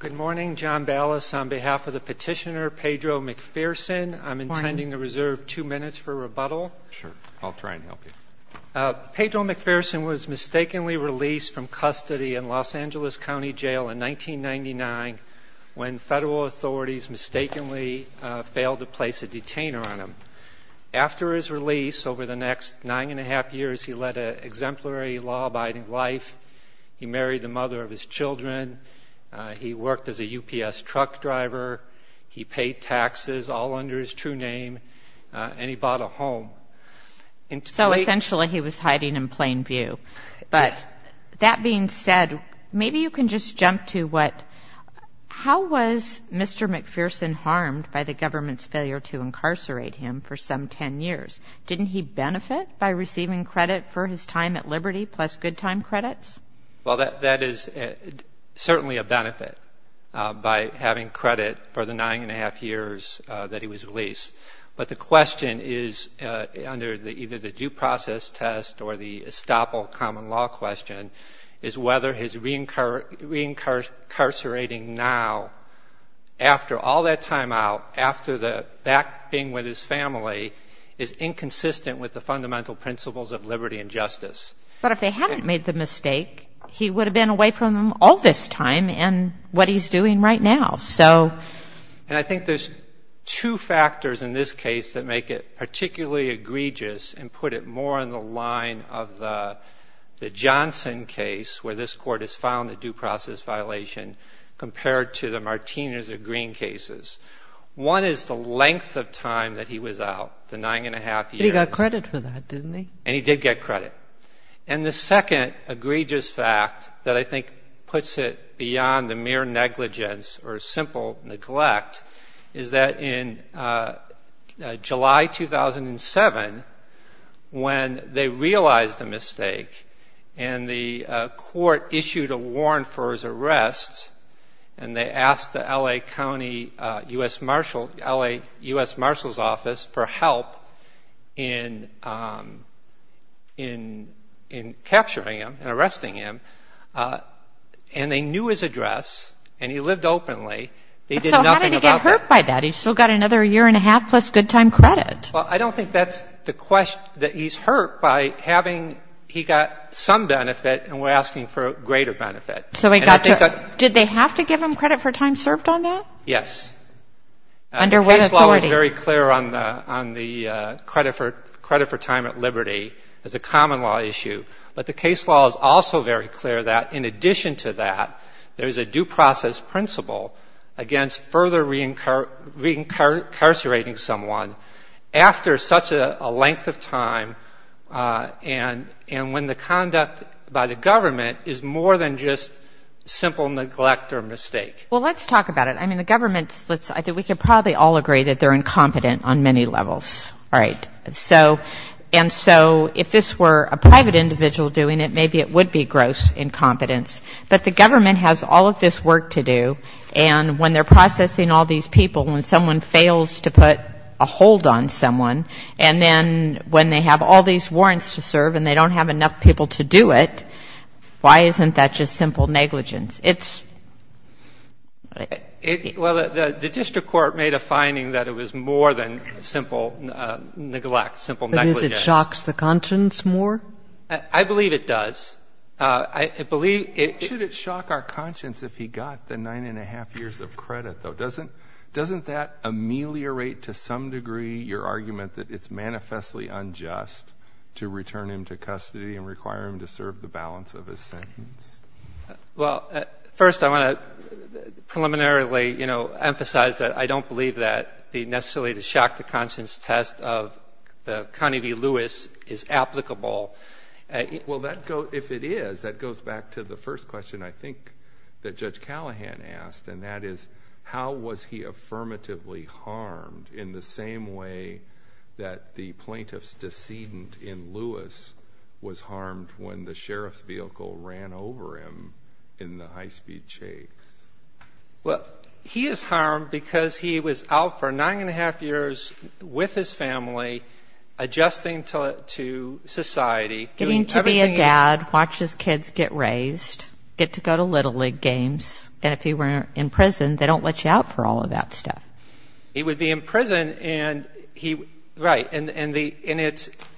Good morning, John Ballas. On behalf of the petitioner Pedro McPhearson, I'm intending to reserve two minutes for rebuttal. Sure, I'll try and help you. Pedro McPhearson was mistakenly released from custody in Los Angeles County Jail in 1999 when federal authorities mistakenly failed to place a detainer on him. After his release, over the next nine and a half years of his life, he married the mother of his children, he worked as a UPS truck driver, he paid taxes all under his true name, and he bought a home. So essentially he was hiding in plain view. But that being said, maybe you can just jump to what, how was Mr. McPhearson harmed by the government's failure to incarcerate him for some ten years? Didn't he benefit by receiving credit for his time at Liberty plus good time credits? Well, that is certainly a benefit by having credit for the nine and a half years that he was released. But the question is, under either the due process test or the estoppel common law question, is whether his reincarcerating now, after all that time out, after the back being with his family, is inconsistent with the fundamental principles of liberty and justice. But if they hadn't made the mistake, he would have been away from them all this time and what he's doing right now. So... And I think there's two factors in this case that make it particularly egregious and put it more in the line of the Johnson case, where this Court has filed a due process violation, compared to the Martinez or Green cases. One is the length of time that he was out, the nine and a half years. But he got credit for that, didn't he? And he did get credit. And the second egregious fact that I think puts it beyond the mere negligence or simple neglect is that in July 2007, when they realized the mistake and the they asked the L.A. County U.S. Marshal, L.A. U.S. Marshal's Office for help in capturing him and arresting him, and they knew his address, and he lived openly, they did nothing about that. So how did he get hurt by that? He's still got another year and a half plus good time credit. Well, I don't think that's the question, that he's hurt by having, he got some benefit and we're asking for greater benefit. So he got to, did they have to give him credit for time served on that? Yes. Under what authority? The case law is very clear on the credit for time at liberty as a common law issue. But the case law is also very clear that in addition to that, there is a due process principle against further reincarcerating someone after such a length of time and when the conduct by the government is more than just simple neglect or mistake. Well, let's talk about it. I mean, the government, I think we could probably all agree that they're incompetent on many levels, right? And so if this were a private individual doing it, maybe it would be gross incompetence. But the government has all of this work to do, and when they're processing all these people, when someone fails to put a hold on someone, and then when they have all these warrants to serve and they don't have enough people to do it, why isn't that just simple negligence? It's… Well, the district court made a finding that it was more than simple neglect, simple negligence. But is it shocks the conscience more? I believe it does. I believe it… Should it shock our conscience if he got the 9 1⁄2 years of credit, though? Doesn't that ameliorate to some degree your argument that it's manifestly unjust to return him to custody and require him to serve the balance of his sentence? Well, first I want to preliminarily emphasize that I don't believe that the necessarily the shock to conscience test of Connie V. Lewis is applicable. Well, if it is, that goes back to the first question, I think, that Judge Callahan asked, and that is, how was he affirmatively harmed in the same way that the plaintiff's decedent in Lewis was harmed when the sheriff's vehicle ran over him in the high-speed shade? Well, he is harmed because he was out for 9 1⁄2 years with his family, adjusting to society, doing everything he's… Getting to be a dad, watch his kids get raised, get to go to Little League games, and if he were in prison, they don't let you out for all of that stuff. He would be in prison, and he… Right. And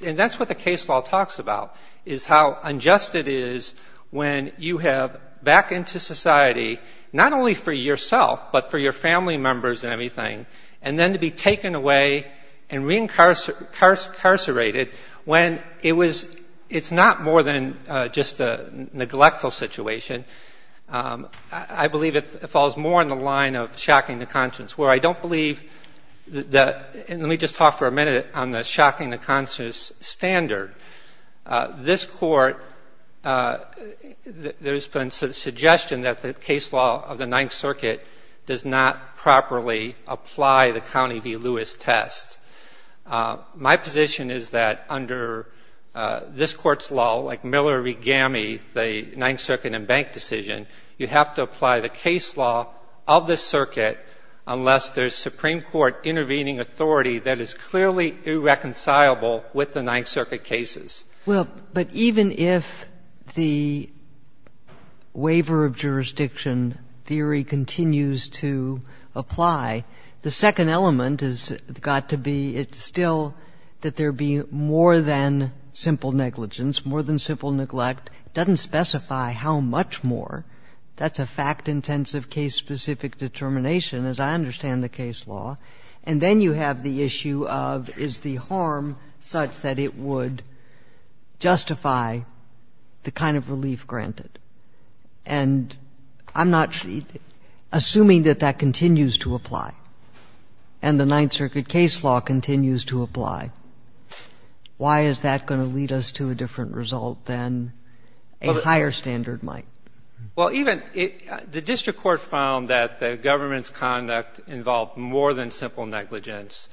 that's what the case law talks about, is how unjust it is when you have back into society, not only for yourself, but for your family members and everything, and then to be taken away and reincarcerated when it's not more than just a neglectful situation. I believe it falls more in the line of shocking the conscience, where I don't believe that… Let me just talk for a minute on the shocking the conscience standard. This Court… There has been some suggestion that the case law of the Ninth Circuit does not properly apply the County v. Lewis test. My position is that under this Court's law, like Miller v. Gammey, the Ninth Circuit and bank decision, you have to apply the case law of the circuit unless there's Supreme Court intervening authority that is clearly irreconcilable with the Ninth Circuit cases. Well, but even if the waiver of jurisdiction theory continues to apply, the second element has got to be still that there be more than simple negligence, more than simple neglect. It doesn't specify how much more. That's a fact-intensive, case-specific determination, as I understand the case law. And then you have the issue of, is the harm such that it would justify the kind of relief granted? And I'm not… Assuming that that continues to apply and the Ninth Circuit case law continues to apply, why is that going to lead us to a different result than a higher standard might? Well, even… The district court found that the government's conduct involved more than simple negligence.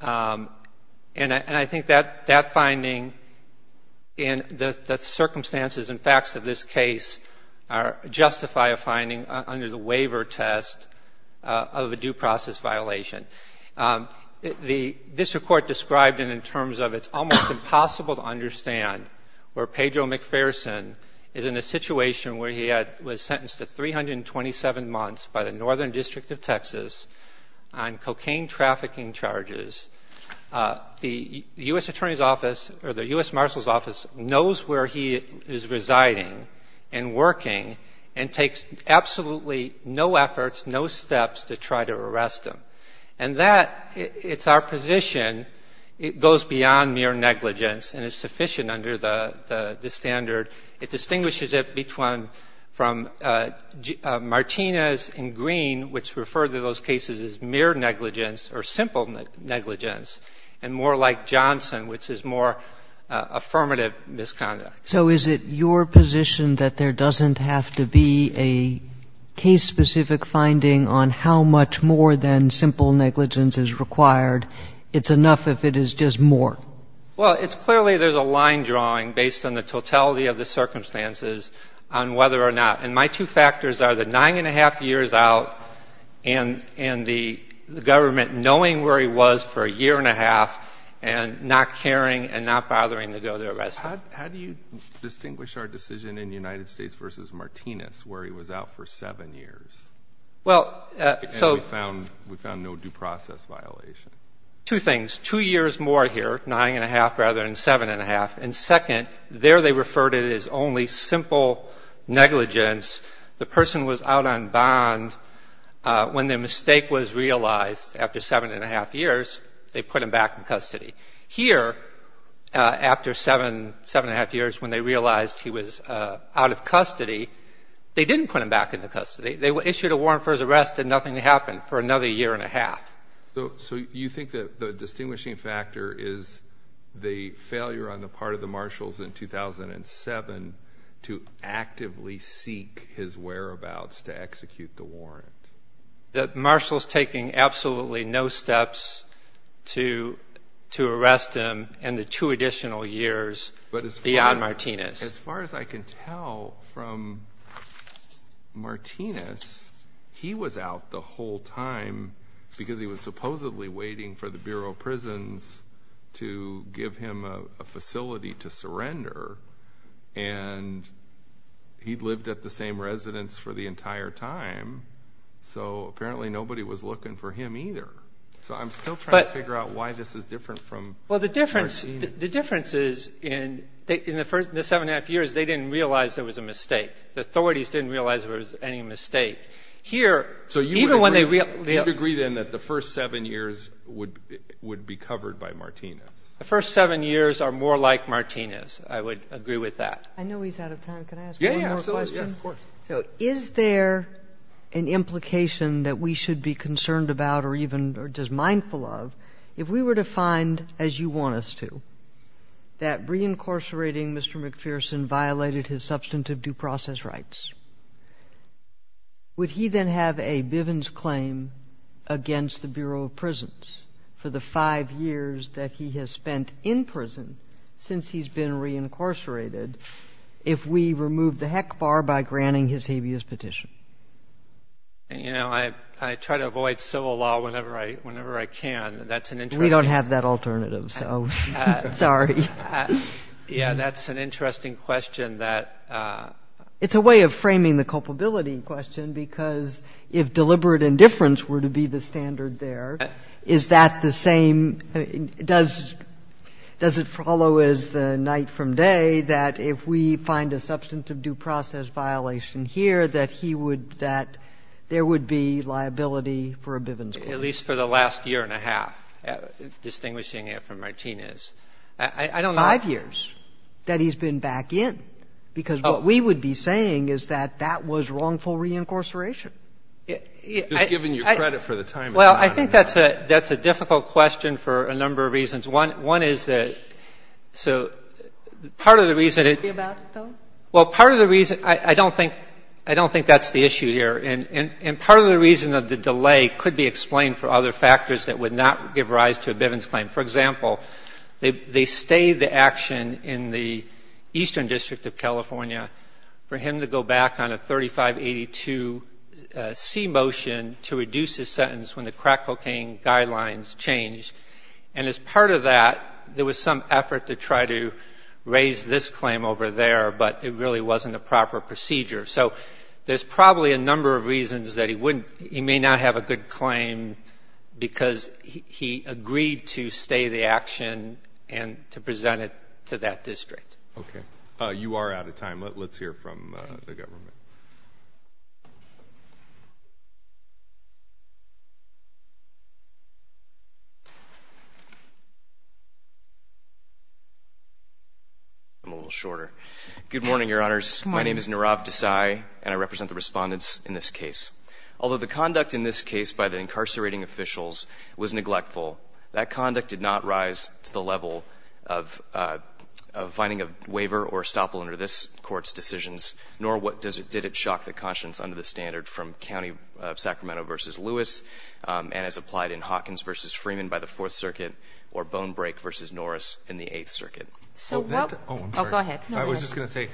And I think that finding and the circumstances and facts of this case justify a finding under the waiver test of a due process violation. The district court described it in terms of it's almost impossible to understand where Pedro McPherson is in a situation where he was sentenced to 327 months by the Northern District of Texas on cocaine trafficking charges. The U.S. Attorney's Office or the U.S. Marshal's Office knows where he is residing and working and takes absolutely no efforts, no steps to try to arrest him. And that, it's our position, it goes beyond mere negligence and is sufficient under the standard. It distinguishes it from Martinez and Green, which refer to those cases as mere negligence or simple negligence, and more like Johnson, which is more affirmative misconduct. So is it your position that there doesn't have to be a case-specific finding on how much more than simple negligence is required? It's enough if it is just more? Well, it's clearly there's a line drawing based on the totality of the circumstances on whether or not. And my two factors are the nine and a half years out and the government knowing where he was for a year and a half and not caring and not bothering to go to arrest him. How do you distinguish our decision in the United States versus Martinez, where he was out for seven years? And we found no due process violation. Two things. Two years more here, nine and a half rather than seven and a half. And second, there they referred to it as only simple negligence. The person was out on bond. When the mistake was realized after seven and a half years, they put him back in custody. Here, after seven and a half years, when they realized he was out of custody, they didn't put him back into custody. They issued a warrant for his arrest and nothing happened for another year and a half. So you think that the distinguishing factor is the failure on the part of the marshals in 2007 to actively seek his whereabouts to execute the warrant? The marshals taking absolutely no steps to arrest him and the two additional years beyond Martinez. As far as I can tell from Martinez, he was out the whole time because he was supposedly waiting for the Bureau of Prisons to give him a facility to surrender. And he lived at the same residence for the entire time. So apparently nobody was looking for him either. So I'm still trying to figure out why this is different from Martinez. Well, the difference is in the first seven and a half years, they didn't realize there was a mistake. The authorities didn't realize there was any mistake. Here, even when they realized... So you would agree then that the first seven years would be covered by Martinez? The first seven years are more like Martinez. I would agree with that. I know he's out of time. Can I ask one more question? Yeah, yeah, absolutely. Of course. So is there an implication that we should be concerned about or even just mindful of, if we were to find, as you want us to, that reincarcerating Mr. McPherson violated his substantive due process rights, would he then have a fair amount of money that he has spent in prison since he's been reincarcerated if we removed the heck bar by granting his habeas petition? You know, I try to avoid civil law whenever I can. That's an interesting... We don't have that alternative, so sorry. Yeah, that's an interesting question that... It's a way of framing the culpability question, because if deliberate indifference were to be the standard there, is that the same? Does it follow as the night from day that if we find a substantive due process violation here, that there would be liability for a Bivens claim? At least for the last year and a half, distinguishing it from Martinez. Five years that he's been back in, because what we would be saying is that that was wrongful reincarceration. Just giving you credit for the time. Well, I think that's a difficult question for a number of reasons. One is that so part of the reason it... Well, part of the reason... I don't think that's the issue here. And part of the reason that the delay could be explained for other factors that would not give rise to a Bivens claim. For example, they stayed the action in the eastern district of California for him to go back on a 3582C motion to reduce his sentence when the crack cocaine guidelines changed. And as part of that, there was some effort to try to raise this claim over there, but it really wasn't a proper procedure. So there's probably a number of reasons that he wouldn't, he may not have a good claim because he agreed to stay the action and to present it to that district. Okay. You are out of time. Let's hear from the government. I'm a little shorter. Good morning, Your Honors. My name is Nirav Desai, and I represent the respondents in this case. Although the conduct in this case by the incarcerating officials was neglectful, that conduct did not rise to the level of finding a waiver or estoppel under this Court's decisions, nor did it shock the conscience under the standard from County of Sacramento v. Lewis, and as applied in Hawkins v. Freeman by the Fourth Circuit, or Bonebrake v. Norris in the Eighth Circuit. I was just going to say,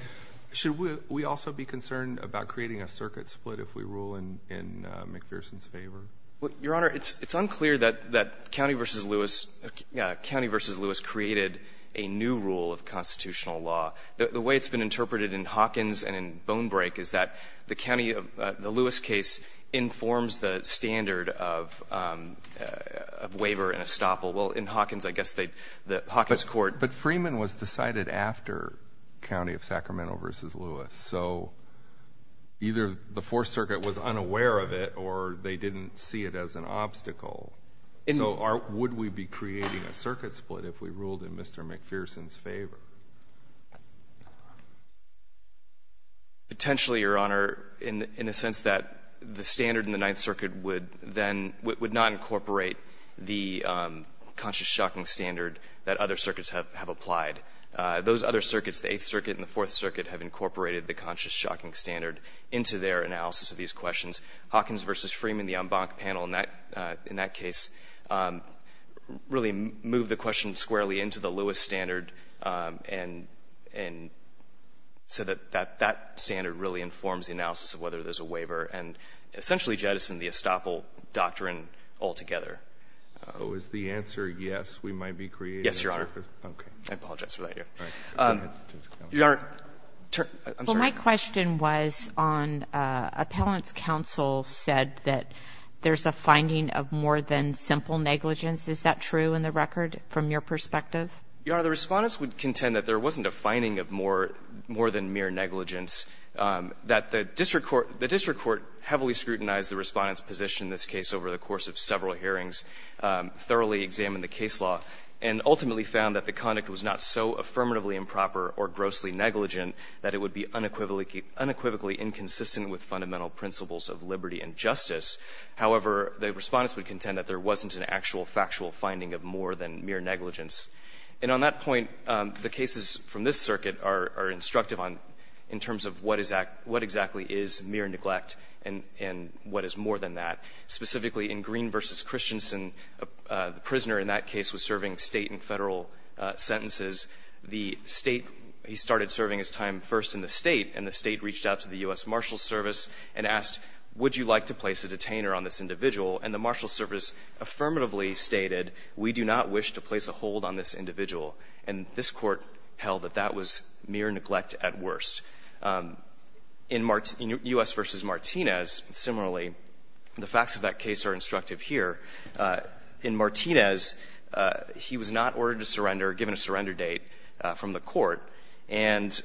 should we also be concerned about creating a circuit split if we rule in McPherson's favor? Your Honor, it's unclear that County v. Lewis created a new rule of constitutional law. The way it's been interpreted in Hawkins and in Bonebrake is that the Lewis case informs the standard of waiver and estoppel. Well, in Hawkins, I guess the Hawkins Court But Freeman was decided after County of Sacramento v. Lewis, so either the Fourth Circuit was unaware of it, or they didn't see it as an obstacle. So would we be creating a circuit split if we ruled in Mr. McPherson's favor? Potentially, Your Honor, in the sense that the standard in the Ninth Circuit would not incorporate the conscious shocking standard that other circuits have applied. Those other circuits, the Eighth Circuit and the Fourth Circuit, have incorporated the conscious shocking standard into their analysis of these questions. Hawkins v. Freeman, the en banc panel in that case, really moved the question squarely into the Lewis standard, so that that standard really informs the analysis of whether there's a waiver, and essentially jettisoned the estoppel doctrine altogether. Is the answer yes, we might be creating a circuit split? Yes, Your Honor. I apologize for that. Your Honor, I'm sorry. Well, my question was on appellant's counsel said that there's a finding of more than simple negligence. Is that true in the record from your perspective? Your Honor, the Respondents would contend that there wasn't a finding of more than mere negligence, that the district court heavily scrutinized the Respondent's position in this case over the course of several hearings, thoroughly examined the case law, and ultimately found that the conduct was not so affirmatively improper or grossly negligent that it would be unequivocally inconsistent with fundamental principles of liberty and justice. However, the Respondents would contend that there wasn't an actual factual finding of more than mere negligence. And on that point, the cases from this circuit are instructive on in terms of what exactly is mere neglect and what is more than that. Specifically, in Green v. Christensen, the prisoner in that case was serving State and Federal sentences. The State, he started serving his time first in the State, and the State reached out to the U.S. Marshals Service and asked, would you like to place a detainer on this individual? And the Marshals Service affirmatively stated, we do not wish to place a hold on this individual. And this Court held that that was mere neglect at worst. In U.S. v. Martinez, similarly, the facts of that case are instructive here. In Martinez, he was not ordered to surrender, given a surrender date from the Court, and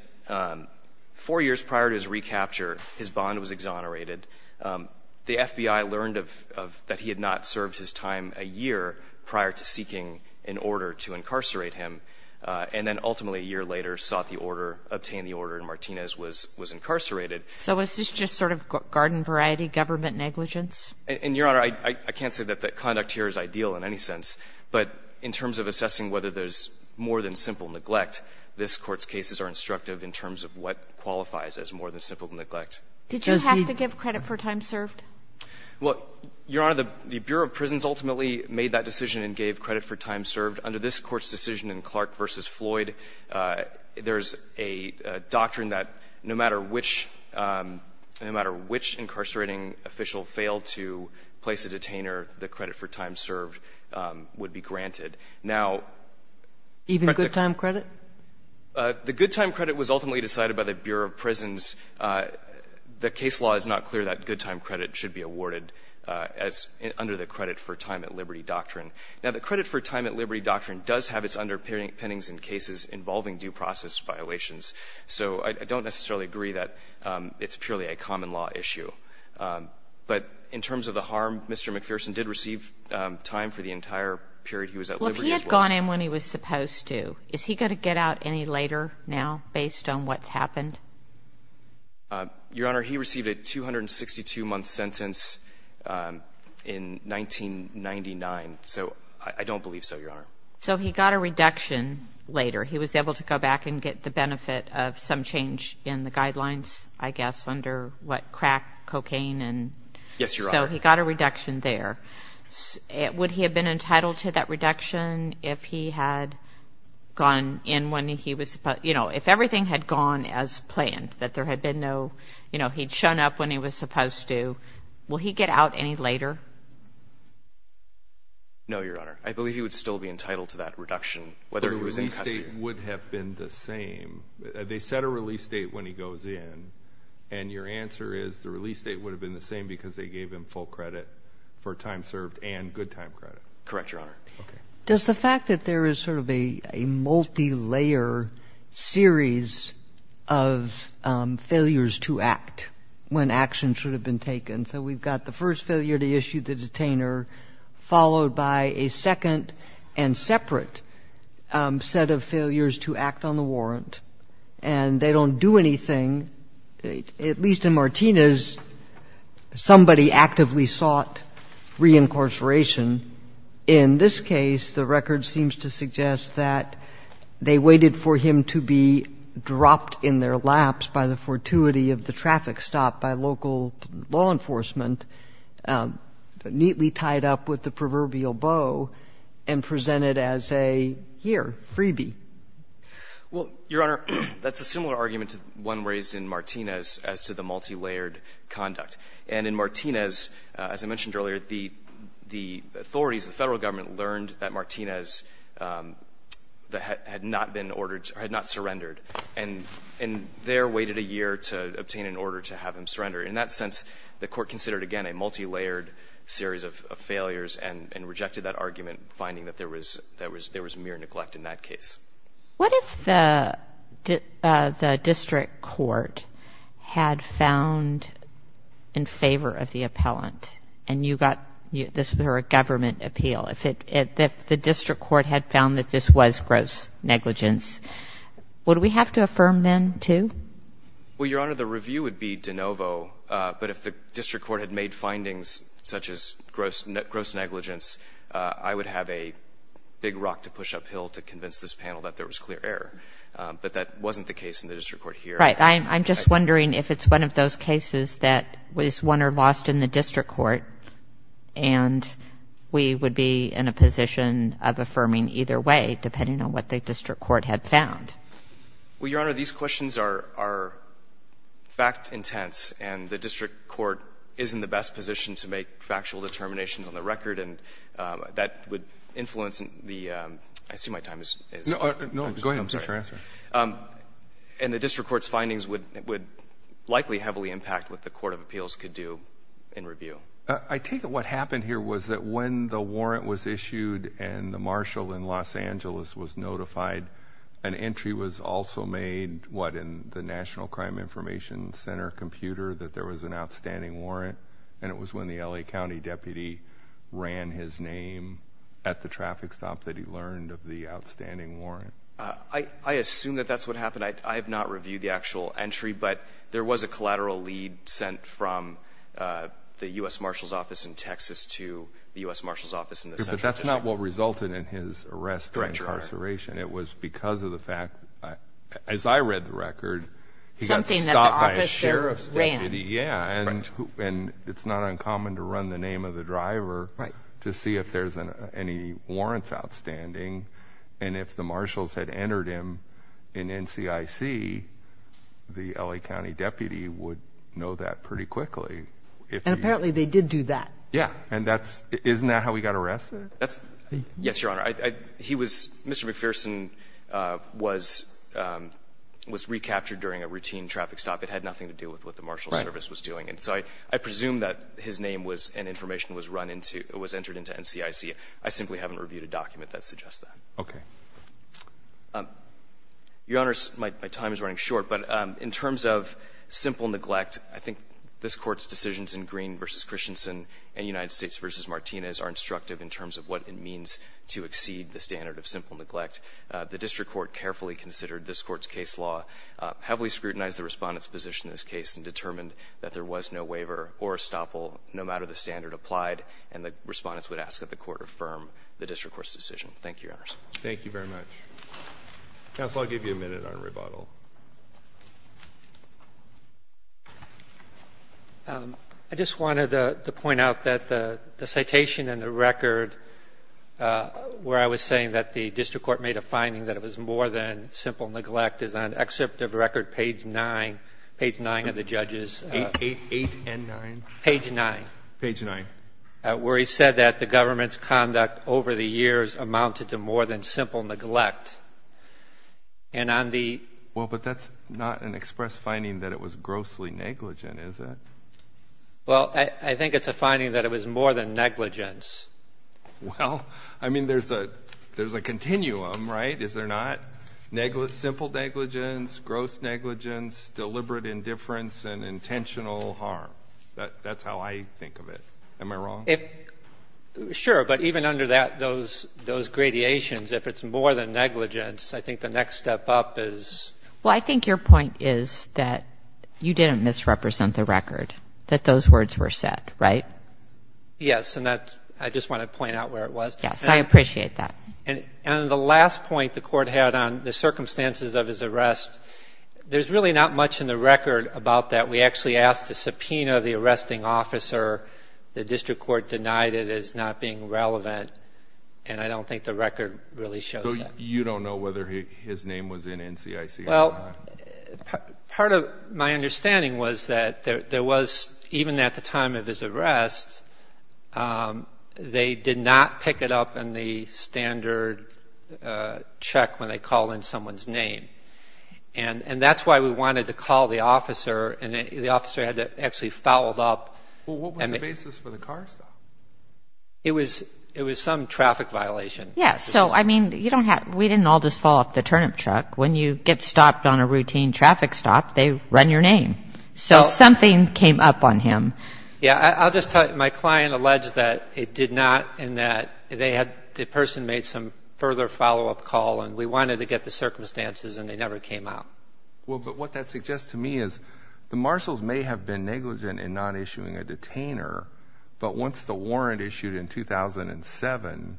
four years prior to his recapture, his bond was exonerated. The FBI learned that he had not served his time a year prior to seeking an order to incarcerate him, and then ultimately a year later sought the order, obtained the order, and Martinez was incarcerated. So is this just sort of garden-variety government negligence? And, Your Honor, I can't say that the conduct here is ideal in any sense. But in terms of assessing whether there's more than simple neglect, this Court's cases are instructive in terms of what qualifies as more than simple neglect. Did you have to give credit for time served? Well, Your Honor, the Bureau of Prisons ultimately made that decision and gave credit for time served. Under this Court's decision in Clark v. Floyd, there's a doctrine that no matter which — no matter which incarcerating official failed to place a detainer, the credit for time served would be granted. Now — Even good time credit? The good time credit was ultimately decided by the Bureau of Prisons. The case law is not clear that good time credit should be awarded as — under the credit-for-time-at-liberty doctrine. Now, the credit-for-time-at-liberty doctrine does have its underpinnings in cases involving due process violations. So I don't necessarily agree that it's purely a common law issue. But in terms of the harm, Mr. McPherson did receive time for the entire period he was at liberty. Well, if he had gone in when he was supposed to, is he going to get out any later now based on what's happened? Your Honor, he received a 262-month sentence in 1999. So I don't believe so, Your Honor. So he got a reduction later. He was able to go back and get the benefit of some change in the guidelines, I guess, under, what, crack cocaine and — Yes, Your Honor. So he got a reduction there. Would he have been entitled to that reduction if he had gone in when he was — you know, if everything had gone as planned, that there had been no — you know, he'd shown up when he was supposed to? Will he get out any later? No, Your Honor. I believe he would still be entitled to that reduction, whether he was in custody or not. But a release date would have been the same. They set a release date when he goes in. And your answer is the release date would have been the same because they gave him full credit for time served and good time credit. Correct, Your Honor. Okay. Does the fact that there is sort of a multilayer series of failures to act when action should have been taken — And so we've got the first failure to issue the detainer, followed by a second and separate set of failures to act on the warrant. And they don't do anything. At least in Martinez, somebody actively sought reincarceration. In this case, the record seems to suggest that they waited for him to be dropped in their laps by the fortuity of the traffic stop by local law enforcement, neatly tied up with the proverbial bow, and presented as a, here, freebie. Well, Your Honor, that's a similar argument to the one raised in Martinez as to the multilayered conduct. And in Martinez, as I mentioned earlier, the authorities, the Federal Government, learned that Martinez had not been ordered — had not surrendered. And there waited a year to obtain an order to have him surrender. In that sense, the Court considered, again, a multilayered series of failures and rejected that argument, finding that there was mere neglect in that case. What if the district court had found in favor of the appellant and you got — this is a government appeal. If the district court had found that this was gross negligence, would we have to affirm then, too? Well, Your Honor, the review would be de novo. But if the district court had made findings such as gross negligence, I would have a big rock to push uphill to convince this panel that there was clear error. But that wasn't the case in the district court here. Right. I'm just wondering if it's one of those cases that is won or lost in the district court, and we would be in a position of affirming either way, depending on what the district court had found. Well, Your Honor, these questions are fact-intense. And the district court is in the best position to make factual determinations on the record. And that would influence the — I see my time is — No, go ahead. I'm sorry. It's your answer. And the district court's findings would likely heavily impact what the court of appeals could do in review. I take it what happened here was that when the warrant was issued and the marshal in Los Angeles was notified, an entry was also made, what, in the National Crime Information Center computer, that there was an outstanding warrant. And it was when the L.A. County deputy ran his name at the traffic stop that he learned of the outstanding warrant. I assume that that's what happened. I have not reviewed the actual entry, but there was a collateral lead sent from the U.S. marshal's office in Texas to the U.S. marshal's office in the Central District. But that's not what resulted in his arrest or incarceration. It was because of the fact, as I read the record, he got stopped by a sheriff's deputy. Yeah. And it's not uncommon to run the name of the driver to see if there's any warrants outstanding. And if the marshals had entered him in NCIC, the L.A. County deputy would know that pretty quickly. And apparently they did do that. Yeah. Isn't that how he got arrested? Yes, Your Honor. Mr. McPherson was recaptured during a routine traffic stop. It had nothing to do with what the marshal's service was doing. So I presume that his name and information was entered into NCIC. I simply haven't reviewed a document that suggests that. Okay. Your Honor, my time is running short. But in terms of simple neglect, I think this Court's decisions in Green v. Christensen and United States v. Martinez are instructive in terms of what it means to exceed the standard of simple neglect. The district court carefully considered this Court's case law, heavily scrutinized the Respondent's position in this case, and determined that there was no waiver or estoppel no matter the standard applied. And the Respondents would ask that the Court affirm the district court's decision. Thank you, Your Honors. Thank you very much. Counsel, I'll give you a minute on rebuttal. I just wanted to point out that the citation and the record where I was saying that the district court made a finding that it was more than simple neglect is on excerpt of record page 9, page 9 of the judge's. 8 and 9. Page 9. Page 9. Where he said that the government's conduct over the years amounted to more than simple neglect. And on the... Well, but that's not an express finding that it was grossly negligent, is it? Well, I think it's a finding that it was more than negligence. Well, I mean, there's a continuum, right? Is there not? Simple negligence, gross negligence, deliberate indifference, and intentional harm. That's how I think of it. Am I wrong? Sure, but even under those gradations, if it's more than negligence, I think the next step up is... Well, I think your point is that you didn't misrepresent the record, that those words were set, right? Yes, and that's... I just want to point out where it was. Yes, I appreciate that. And the last point the court had on the circumstances of his arrest, there's really not much in the record about that. We actually asked the subpoena of the arresting officer. The district court denied it as not being relevant, and I don't think the record really shows that. So you don't know whether his name was in NCIC or not? Well, part of my understanding was that there was, even at the time of his arrest, they did not pick it up in the standard check when they call in someone's name. And that's why we wanted to call the officer, and the officer had to actually foul it up. Well, what was the basis for the car stop? It was some traffic violation. Yes, so, I mean, we didn't all just fall off the turnip truck. When you get stopped on a routine traffic stop, they run your name. So something came up on him. Yeah, I'll just tell you, my client alleged that it did not, and that the person made some further follow-up call, and we wanted to get the circumstances, and they never came out. Well, but what that suggests to me is the marshals may have been negligent in not issuing a detainer, but once the warrant issued in 2007,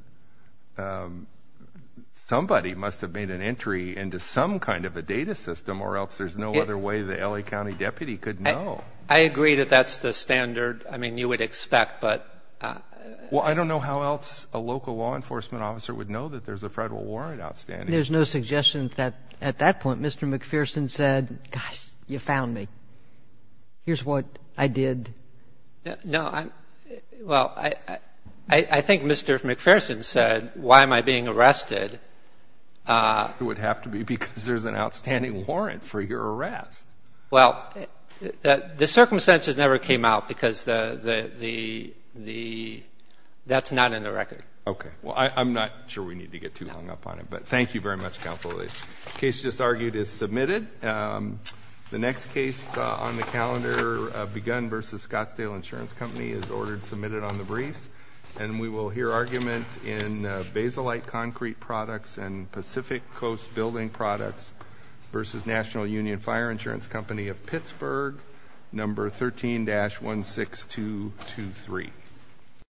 somebody must have made an entry into some kind of a data system or else there's no other way the L.A. County deputy could know. I agree that that's the standard. I mean, you would expect, but — Well, I don't know how else a local law enforcement officer would know that there's a Federal warrant outstanding. There's no suggestion that at that point Mr. McPherson said, gosh, you found me. Here's what I did. No. Well, I think Mr. McPherson said, why am I being arrested? It would have to be because there's an outstanding warrant for your arrest. Well, the circumstances never came out because that's not in the record. Okay. Well, I'm not sure we need to get too hung up on it, but thank you very much, Counsel Lee. The case just argued is submitted. The next case on the calendar, Begun v. Scottsdale Insurance Company, is ordered submitted on the briefs, and we will hear argument in basalite concrete products and Pacific Coast Building Products v. National Union Fire Insurance Company of Pittsburgh, No. 13-16223.